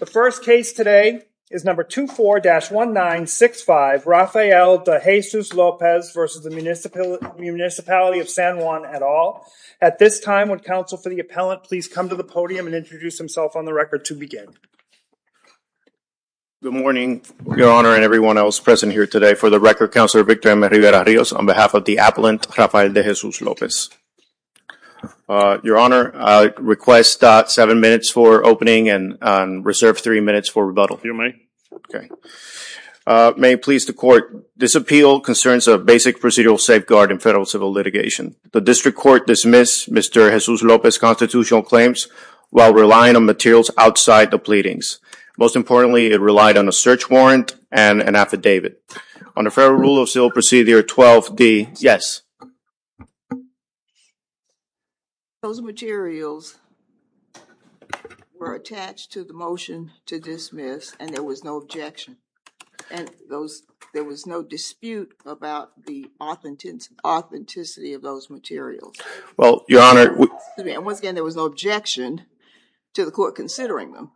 The first case today is number 24-1965 Rafael De Jesus-Lopez v. Municipality of San Juan, et al. At this time, would counsel for the appellant please come to the podium and introduce himself on the record to begin. Good morning, Your Honor and everyone else present here today. For the record, Counselor Victor M. Rivera-Rios on behalf of the appellant, Rafael De Jesus-Lopez. Your Honor, I request seven minutes for opening and reserve three minutes for rebuttal. May it please the Court. This appeal concerns a basic procedural safeguard in federal civil litigation. The District Court dismissed Mr. De Jesus-Lopez's constitutional claims while relying on materials outside the pleadings. Most importantly, it relied on a search warrant and an affidavit. On the federal rule of civil procedure 12-D, yes. Those materials were attached to the motion to dismiss and there was no objection. There was no dispute about the authenticity of those materials. Well, Your Honor, Once again, there was no objection to the Court considering them.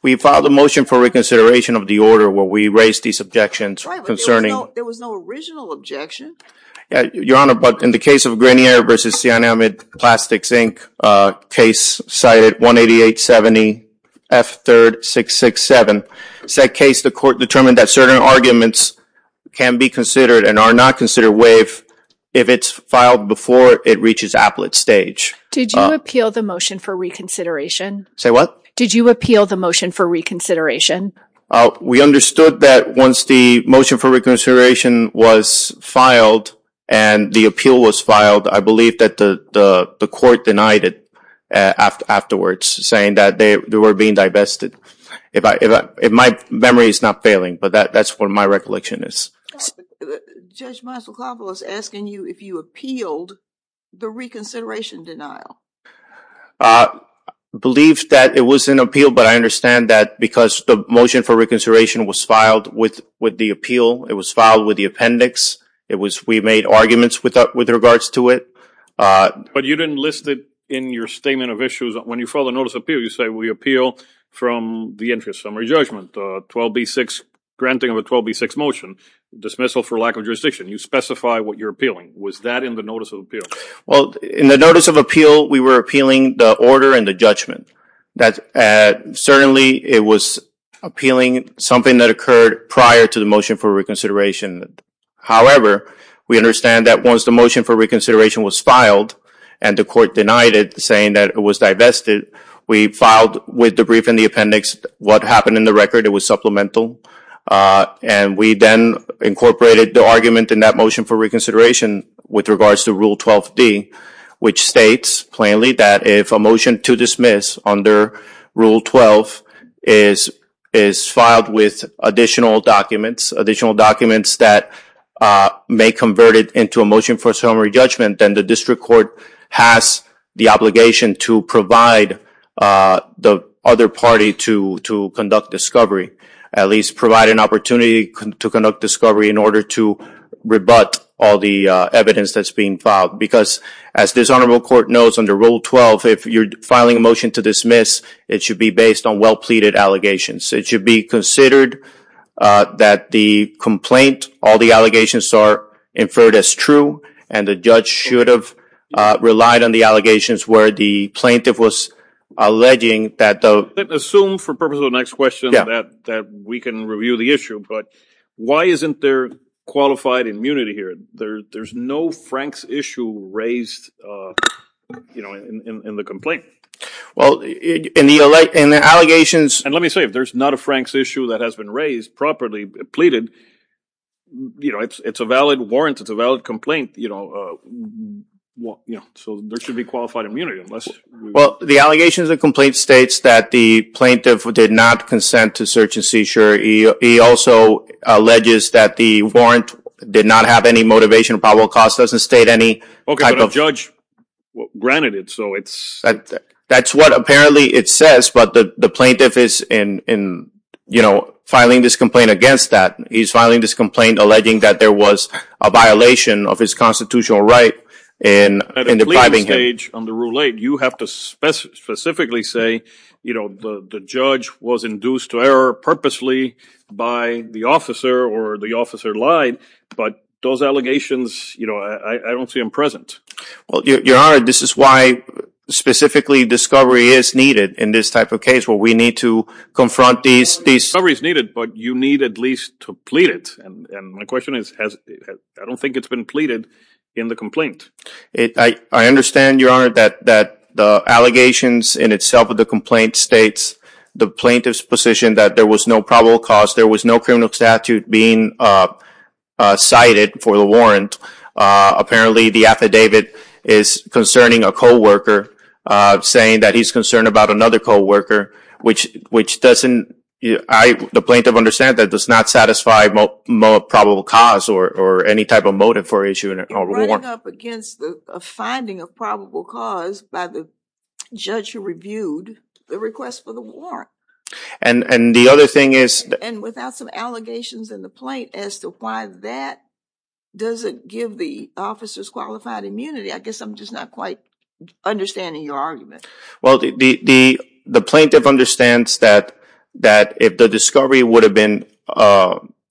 We filed a motion for reconsideration of the order where we raised these objections concerning Right, but there was no original objection. Your Honor, but in the case of Grenier v. Sian Ahmed Plastics, Inc., case cited 18870 F. 3rd 667, said case the Court determined that certain arguments can be considered and are not considered waived if it's filed before it reaches appellate stage. Did you appeal the motion for reconsideration? Say what? Did you appeal the motion for reconsideration? We understood that once the motion for reconsideration was filed and the appeal was filed, I believe that the Court denied it afterwards, saying that they were being divested. My memory is not failing, but that's what my recollection is. Judge Mysokopoulos is asking you if you appealed the reconsideration denial. I believe that it was an appeal, but I understand that because the motion for reconsideration was filed with the appeal, it was filed with the appendix, we made arguments with regards to it. But you didn't list it in your statement of issues. When you file a notice of appeal, you say we appeal from the entry of summary judgment, 12B6, granting of a 12B6 motion, dismissal for lack of jurisdiction. You specify what you're appealing. Was that in the notice of appeal? In the notice of appeal, we were appealing the order and the judgment. Certainly it was appealing something that occurred prior to the motion for reconsideration. However, we understand that once the motion for reconsideration was filed and the Court denied it, saying that it was divested, we filed with the brief and the appendix what happened in the record. It was supplemental. We then incorporated the argument in that motion for reconsideration with regards to 12D, which states plainly that if a motion to dismiss under Rule 12 is filed with additional documents, additional documents that may convert it into a motion for summary judgment, then the District Court has the obligation to provide the other party to conduct discovery, at least provide an opportunity to conduct discovery in order to rebut all the evidence that's being filed. Because, as this Honorable Court knows, under Rule 12, if you're filing a motion to dismiss, it should be based on well-pleaded allegations. It should be considered that the complaint, all the allegations are inferred as true, and the judge should have relied on the allegations where the plaintiff was alleging that the Assume, for purpose of the next question, that we can review the issue, but why isn't there qualified immunity here? There's no Frank's issue raised in the complaint. Well, in the allegations... And let me say, if there's not a Frank's issue that has been raised, properly pleaded, it's a valid warrant, it's a valid complaint, so there should be qualified immunity unless... Well, the allegations of complaint states that the plaintiff did not consent to search and seizure. He also alleges that the warrant did not have any motivation, probable cause doesn't state any type of... Okay, but a judge granted it, so it's... That's what apparently it says, but the plaintiff is filing this complaint against that. He's filing this complaint alleging that there was a violation of his constitutional right in depriving him... At a legal stage, under Rule 8, you have to specifically say, the judge was induced to seizure purposely by the officer or the officer lied, but those allegations, I don't see them present. Well, Your Honor, this is why specifically discovery is needed in this type of case where we need to confront these... Discovery is needed, but you need at least to plead it, and my question is, I don't think it's been pleaded in the complaint. I understand, Your Honor, that the allegations in itself of the complaint states the plaintiff's position that there was no probable cause, there was no criminal statute being cited for the warrant. Apparently the affidavit is concerning a co-worker, saying that he's concerned about another co-worker, which doesn't... The plaintiff understands that does not satisfy probable cause or any type of motive for issuing a warrant. You're running up against a finding of probable cause by the judge who reviewed the request for the warrant. And the other thing is... And without some allegations in the plaint, as to why that doesn't give the officer's qualified immunity, I guess I'm just not quite understanding your argument. The plaintiff understands that if the discovery would have been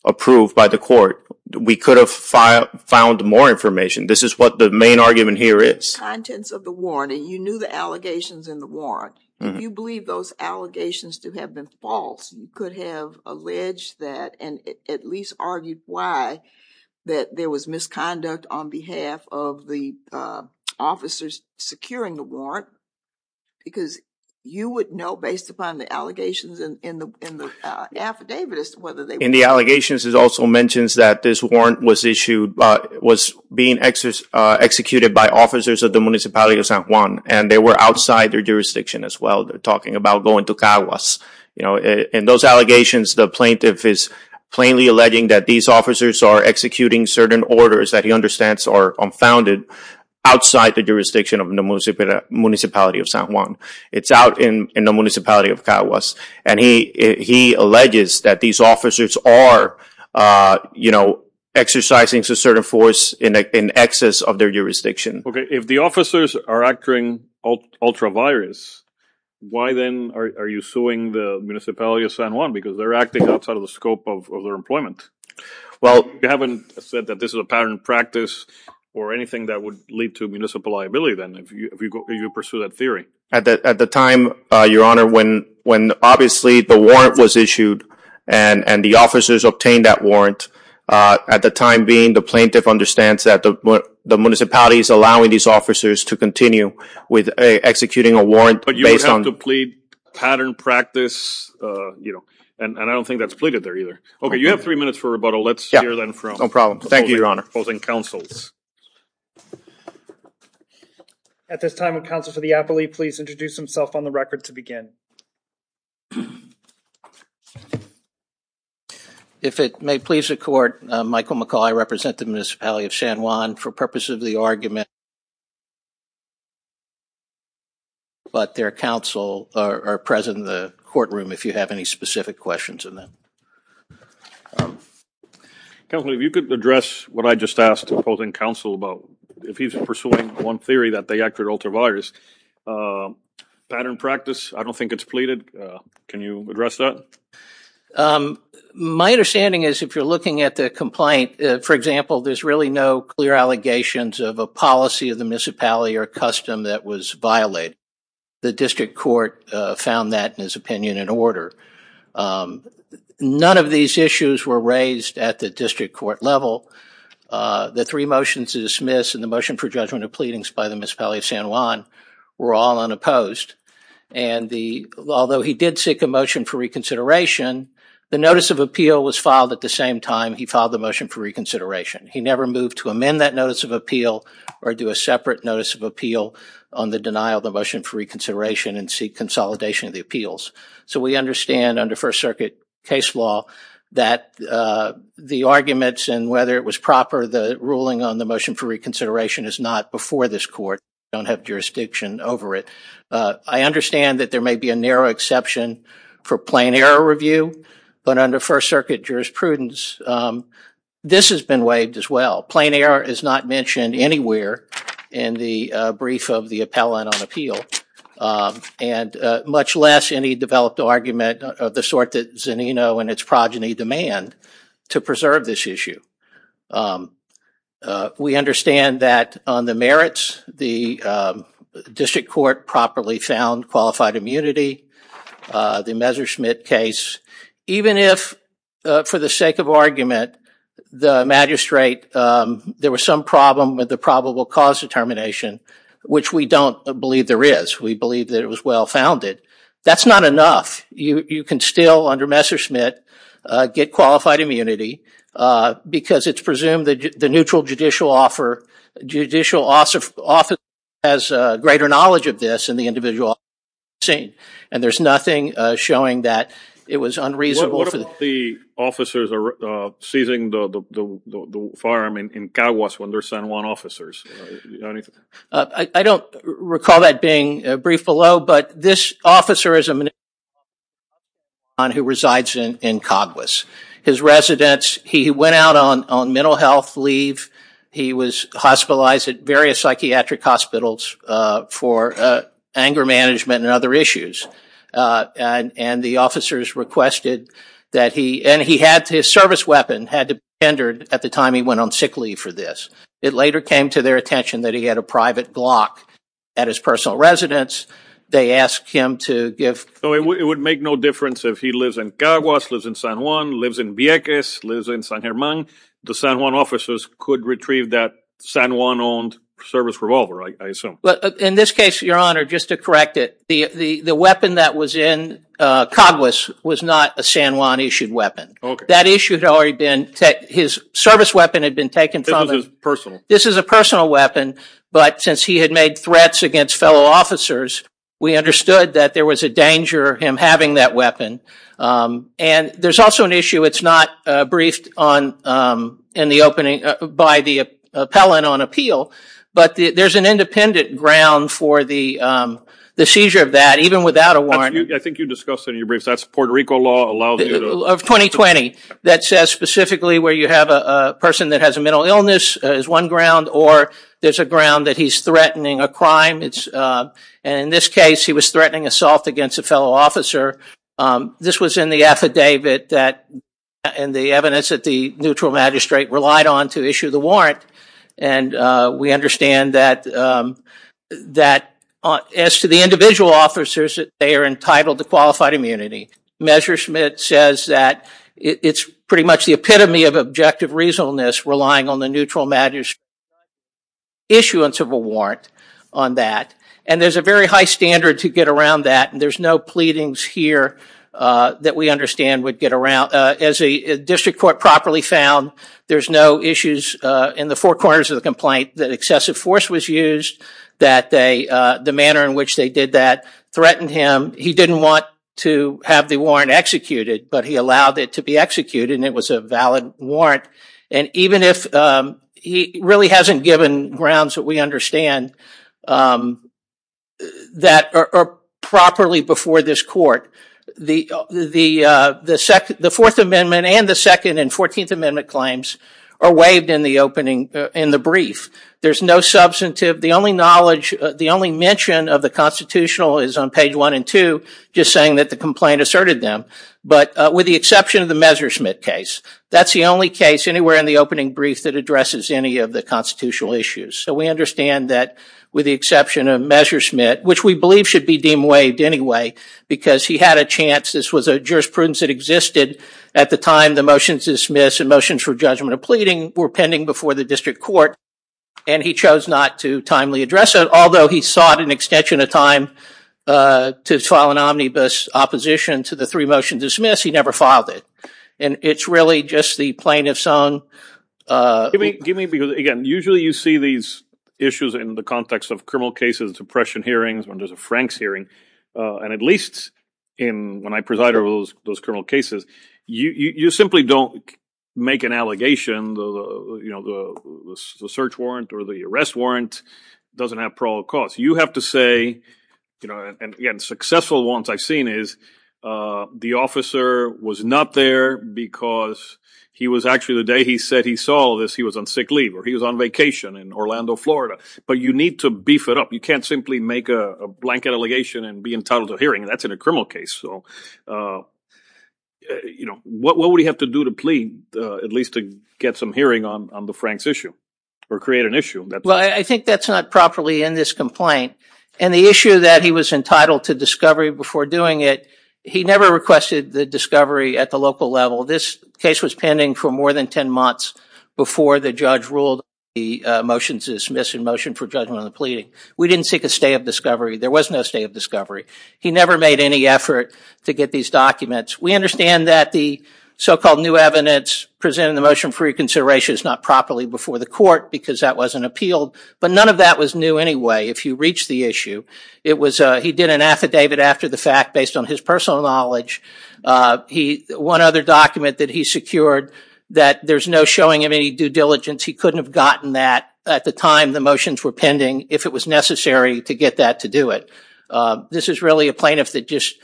approved by the court, we could have found more information. This is what the main argument here is. In the contents of the warrant, and you knew the allegations in the warrant, do you believe those allegations to have been false? You could have alleged that and at least argued why that there was misconduct on behalf of the officers securing the warrant. Because you would know, based upon the allegations in the affidavit, whether they were... In the allegations, it also mentions that this warrant was issued, was being executed by officers of the municipality of San Juan, and they were outside their jurisdiction as well. They're talking about going to Caguas. In those allegations, the plaintiff is plainly alleging that these officers are executing certain orders that he understands are unfounded outside the jurisdiction of the municipality of San Juan. It's out in the municipality of Caguas. He alleges that these officers are exercising a certain force in excess of their jurisdiction. If the officers are acting ultra-virus, why then are you suing the municipality of San Because they're acting outside of the scope of their employment. You haven't said that this is a pattern of practice or anything that would lead to municipal liability then, if you pursue that theory. At the time, your honor, when obviously the warrant was issued, and the officers obtained that warrant, at the time being, the plaintiff understands that the municipality is allowing these officers to continue with executing a warrant based on... But you would have to plead pattern practice, and I don't think that's pleaded there either. Okay, you have three minutes for rebuttal. Let's hear then from... No problem. Thank you, your honor. Opposing counsels. At this time, would counsel for the appellee please introduce himself on the record to begin. If it may please the court, Michael McCaul, I represent the municipality of San Juan. For purpose of the argument, but their counsel are present in the courtroom if you have any specific questions on that. Counsel, if you could address what I just asked opposing counsel about, if he's pursuing one theory that they acted ultraviolet, pattern practice, I don't think it's pleaded. Can you address that? My understanding is, if you're looking at the complaint, for example, there's really no clear allegations of a policy of the municipality or custom that was violated. The district court found that, in his opinion, in order. None of these issues were raised at the district court level. The three motions to dismiss and the motion for judgment of pleadings by the municipality of San Juan were all unopposed. Although he did seek a motion for reconsideration, the notice of appeal was filed at the same time he filed the motion for reconsideration. He never moved to amend that notice of appeal or do a separate notice of appeal on the denial of the motion for reconsideration and seek consolidation of the appeals. We understand under First Circuit case law that the arguments and whether it was proper the ruling on the motion for reconsideration is not before this court. We don't have jurisdiction over it. I understand that there may be a narrow exception for plain error review, but under First Circuit jurisprudence, this has been waived as well. Plain error is not mentioned anywhere in the brief of the appellant on appeal. Much less any developed argument of the sort that Zanino and its progeny demand to preserve this issue. We understand that on the merits, the district court properly found qualified immunity. The Messerschmitt case, even if for the sake of argument, the magistrate, there was some problem with the probable cause determination, which we don't believe there is. We believe that it was well-founded. That's not enough. You can still, under Messerschmitt, get qualified immunity because it's presumed that the neutral judicial office has greater knowledge of this than the individual office has seen. There's nothing showing that it was unreasonable for the- What about the officers seizing the farm in Caguas when they're San Juan officers? I don't recall that being briefed below, but this officer is a man who resides in Caguas. His residence, he went out on mental health leave. He was hospitalized at various psychiatric hospitals for anger management and other issues. The officers requested that he... His service weapon had to be tendered at the time he went on sick leave for this. It later came to their attention that he had a private Glock at his personal residence. They asked him to give- It would make no difference if he lives in Caguas, lives in San Juan, lives in Vieques, lives in San Germán. The San Juan officers could retrieve that San Juan-owned service revolver, I assume. In this case, your honor, just to correct it, the weapon that was in Caguas was not a San Juan issued weapon. That issue had already been... His service weapon had been taken from him. This was his personal? This is a personal weapon, but since he had made threats against fellow officers, we understood that there was a danger of him having that weapon. There's also an issue, it's not briefed by the appellant on appeal, but there's an independent ground for the seizure of that, even without a warrant. I think you discussed it in your briefs. That's Puerto Rico law allows you to- Of 2020. That says specifically where you have a person that has a mental illness is one ground, or there's a ground that he's threatening a crime. In this case, he was threatening assault against a fellow officer. This was in the affidavit and the evidence that the neutral magistrate relied on to issue the warrant. We understand that as to the individual officers, they are entitled to qualified immunity. Measure Smith says that it's pretty much the epitome of objective reasonableness, relying on the neutral magistrate's issuance of a warrant on that. There's a very high standard to get around that. There's no pleadings here that we understand would get around. As a district court properly found, there's no issues in the four corners of the complaint that excessive force was used, that the manner in which they did that threatened him. He didn't want to have the warrant executed, but he allowed it to be executed and it was a valid warrant. Even if he really hasn't given grounds that we understand that are properly before this court, the Fourth Amendment and the Second and Fourteenth Amendment claims are waived in the opening, in the brief. There's no substantive, the only knowledge, the only mention of the constitutional is on page one and two, just saying that the complaint asserted them, but with the exception of the Measure Smith case, that's the only case anywhere in the opening brief that addresses any of the constitutional issues. We understand that with the exception of Measure Smith, which we believe should be deemed waived anyway, because he had a chance. This was a jurisprudence that existed at the time the motions to dismiss and motions for judgment of pleading were pending before the district court and he chose not to timely address it. Although he sought an extension of time to file an omnibus opposition to the three motions to dismiss, he never filed it. It's really just the plaintiff's own- Give me, because again, usually you see these issues in the context of criminal cases, oppression hearings, when there's a Franks hearing, and at least when I preside over those criminal cases, you simply don't make an allegation, the search warrant or the arrest warrant doesn't have parole cause. You have to say, and again, successful ones I've seen is the officer was not there because he was actually, the day he said he saw this, he was on sick leave or he was on vacation in Orlando, Florida, but you need to beef it up. You can't simply make a blanket allegation and be entitled to a hearing, and that's in a criminal case, so what would he have to do to plead, at least to get some hearing on the Franks issue or create an issue? I think that's not properly in this complaint, and the issue that he was entitled to discovery before doing it, he never requested the discovery at the local level. This case was pending for more than 10 months before the judge ruled the motions to dismiss and motion for judgment on the pleading. We didn't seek a stay of discovery. There was no stay of discovery. He never made any effort to get these documents. We understand that the so-called new evidence presented in the motion for reconsideration is not properly before the court because that wasn't appealed, but none of that was new anyway if you reach the issue. He did an affidavit after the fact based on his personal knowledge. One other document that he secured that there's no showing of any due diligence. He couldn't have gotten that at the time the motions were pending if it was necessary to get that to do it. This is really a plaintiff that just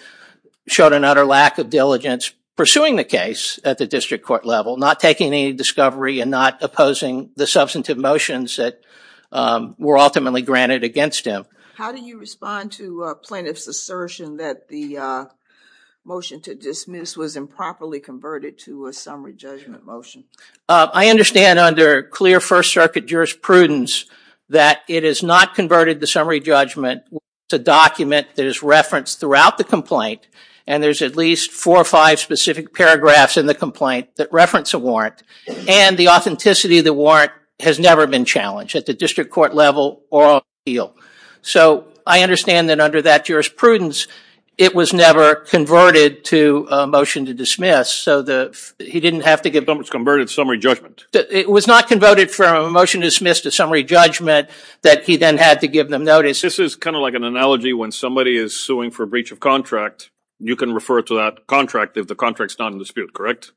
showed an utter lack of diligence pursuing the case at the district court level, not taking any discovery and not opposing the substantive motions that were ultimately granted against him. How do you respond to a plaintiff's assertion that the motion to dismiss was improperly converted to a summary judgment motion? I understand under clear First Circuit jurisprudence that it is not converted to summary judgment. It's a document that is referenced throughout the complaint and there's at least four or five specific paragraphs in the complaint that reference a warrant and the authenticity of the warrant has never been challenged at the district court level or appealed. I understand that under that jurisprudence, it was never converted to a motion to dismiss. It was not converted from a motion to dismiss to summary judgment that he then had to give them notice. This is kind of like an analogy when somebody is suing for breach of contract, you can refer to that contract if the contract is not in dispute, correct?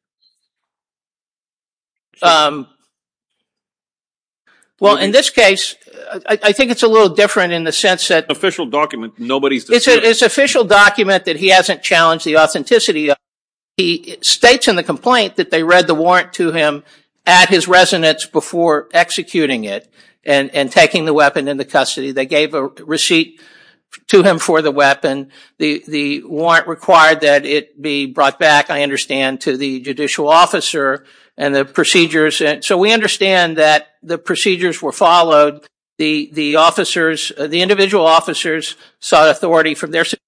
In this case, I think it's a little different in the sense that it's an official document that he hasn't challenged the authenticity of. He states in the complaint that they read the warrant to him at his residence before executing it and taking the weapon into custody. They gave a receipt to him for the weapon. The warrant required that it be brought back, I understand, to the judicial officer and the procedures. We understand that the procedures were followed. The individual officers sought authority from their superiors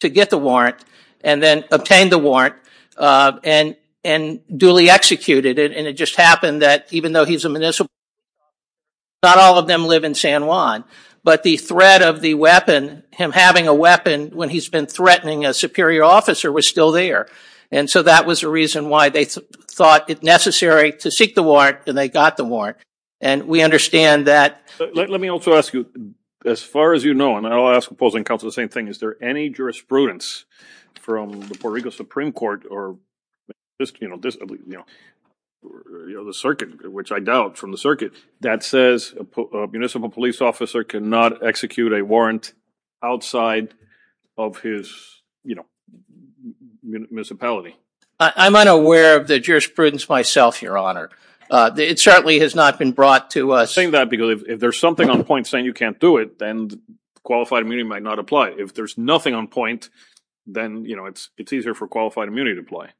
to get the warrant and then obtained the warrant and duly executed it. It just happened that even though he's a municipal, not all of them live in San Juan, but the threat of the weapon, him having a weapon when he's been threatening a superior officer was still there. That was the reason why they thought it necessary to seek the warrant and they got the warrant. We understand that. Let me also ask you, as far as you know, and I'll ask opposing counsel the same thing, is there any jurisprudence from the Puerto Rico Supreme Court or the circuit, which I doubt from the circuit, that says a municipal police officer cannot execute a warrant outside of his municipality? I'm unaware of the jurisprudence myself, your honor. It certainly has not been brought to us. I'm saying that because if there's something on point saying you can't do it, then qualified immunity might not apply. If there's nothing on point, then it's easier for qualified immunity to apply.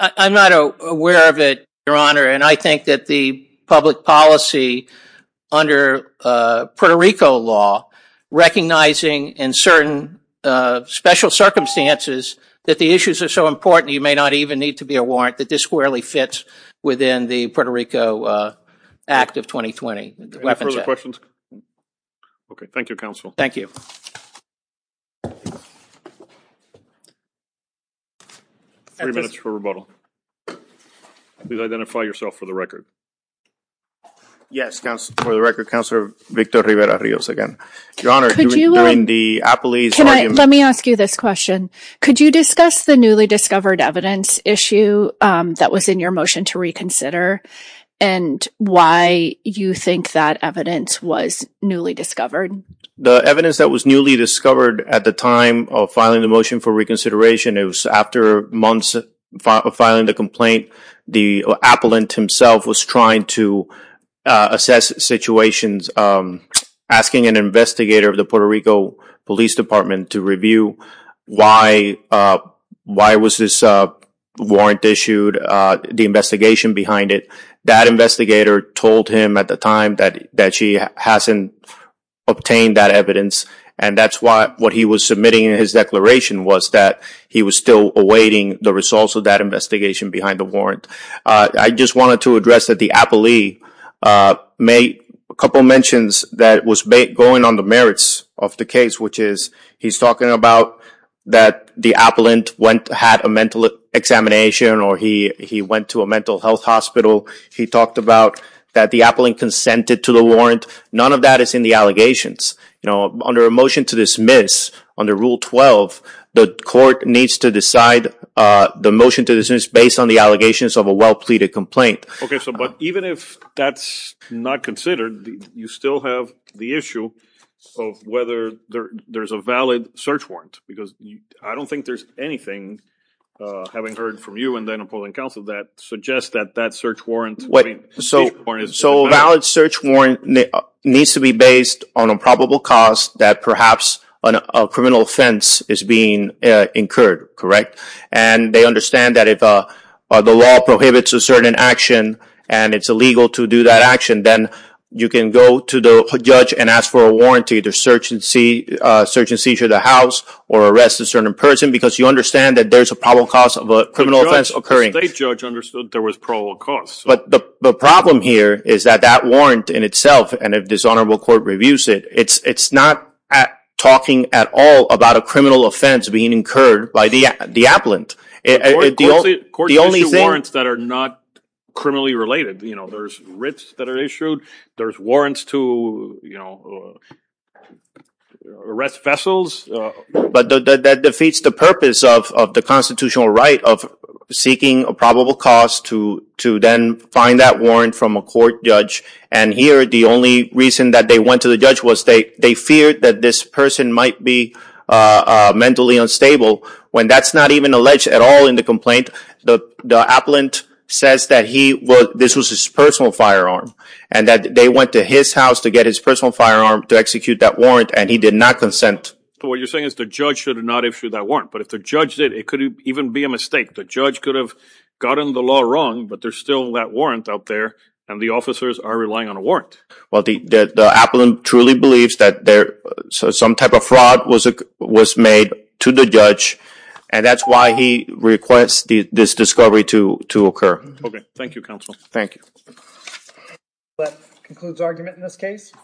I'm not aware of it, your honor, and I think that the public policy under Puerto Rico law, recognizing in certain special circumstances that the issues are so important you may not even need to be a warrant, that this squarely fits within the Puerto Rico Act of 2020. Any further questions? Thank you, counsel. Thank you. Three minutes for rebuttal. Please identify yourself for the record. Yes, for the record, counsel, Victor Rivera-Rios again. Your honor, during the Applease argument... Let me ask you this question. Could you discuss the newly discovered evidence issue that was in your motion to reconsider and why you think that evidence was newly discovered? The evidence that was newly discovered at the time of filing the motion for reconsideration, it was after months of filing the complaint. The appellant himself was trying to assess situations, asking an investigator of the why was this warrant issued, the investigation behind it. That investigator told him at the time that she hasn't obtained that evidence, and that's why what he was submitting in his declaration was that he was still awaiting the results of that investigation behind the warrant. I just wanted to address that the appellee made a couple mentions that was going on the case, which is he's talking about that the appellant had a mental examination or he went to a mental health hospital. He talked about that the appellant consented to the warrant. None of that is in the allegations. Under a motion to dismiss, under Rule 12, the court needs to decide the motion to dismiss based on the allegations of a well-pleaded complaint. Even if that's not considered, you still have the issue of whether there's a valid search warrant. I don't think there's anything, having heard from you and the appellant counsel, that suggests that that search warrant is valid. Valid search warrant needs to be based on a probable cause that perhaps a criminal offense is being incurred, correct? And they understand that if the law prohibits a certain action and it's illegal to do that action, then you can go to the judge and ask for a warranty to search and seizure the house or arrest a certain person because you understand that there's a probable cause of a criminal offense occurring. The state judge understood there was probable cause. But the problem here is that that warrant in itself, and if this honorable court reviews it, it's not talking at all about a criminal offense being incurred by the appellant. Courts issue warrants that are not criminally related. There's writs that are issued. There's warrants to arrest vessels. But that defeats the purpose of the constitutional right of seeking a probable cause to then find that warrant from a court judge. And here, the only reason that they went to the judge was they feared that this person might be mentally unstable. When that's not even alleged at all in the complaint, the appellant says that this was his personal firearm and that they went to his house to get his personal firearm to execute that warrant and he did not consent. So what you're saying is the judge should have not issued that warrant. But if the judge did, it could even be a mistake. The judge could have gotten the law wrong, but there's still that warrant out there and the officers are relying on a warrant. Well, the appellant truly believes that some type of fraud was made to the judge and that's why he requests this discovery to occur. Okay. Thank you, counsel. Thank you.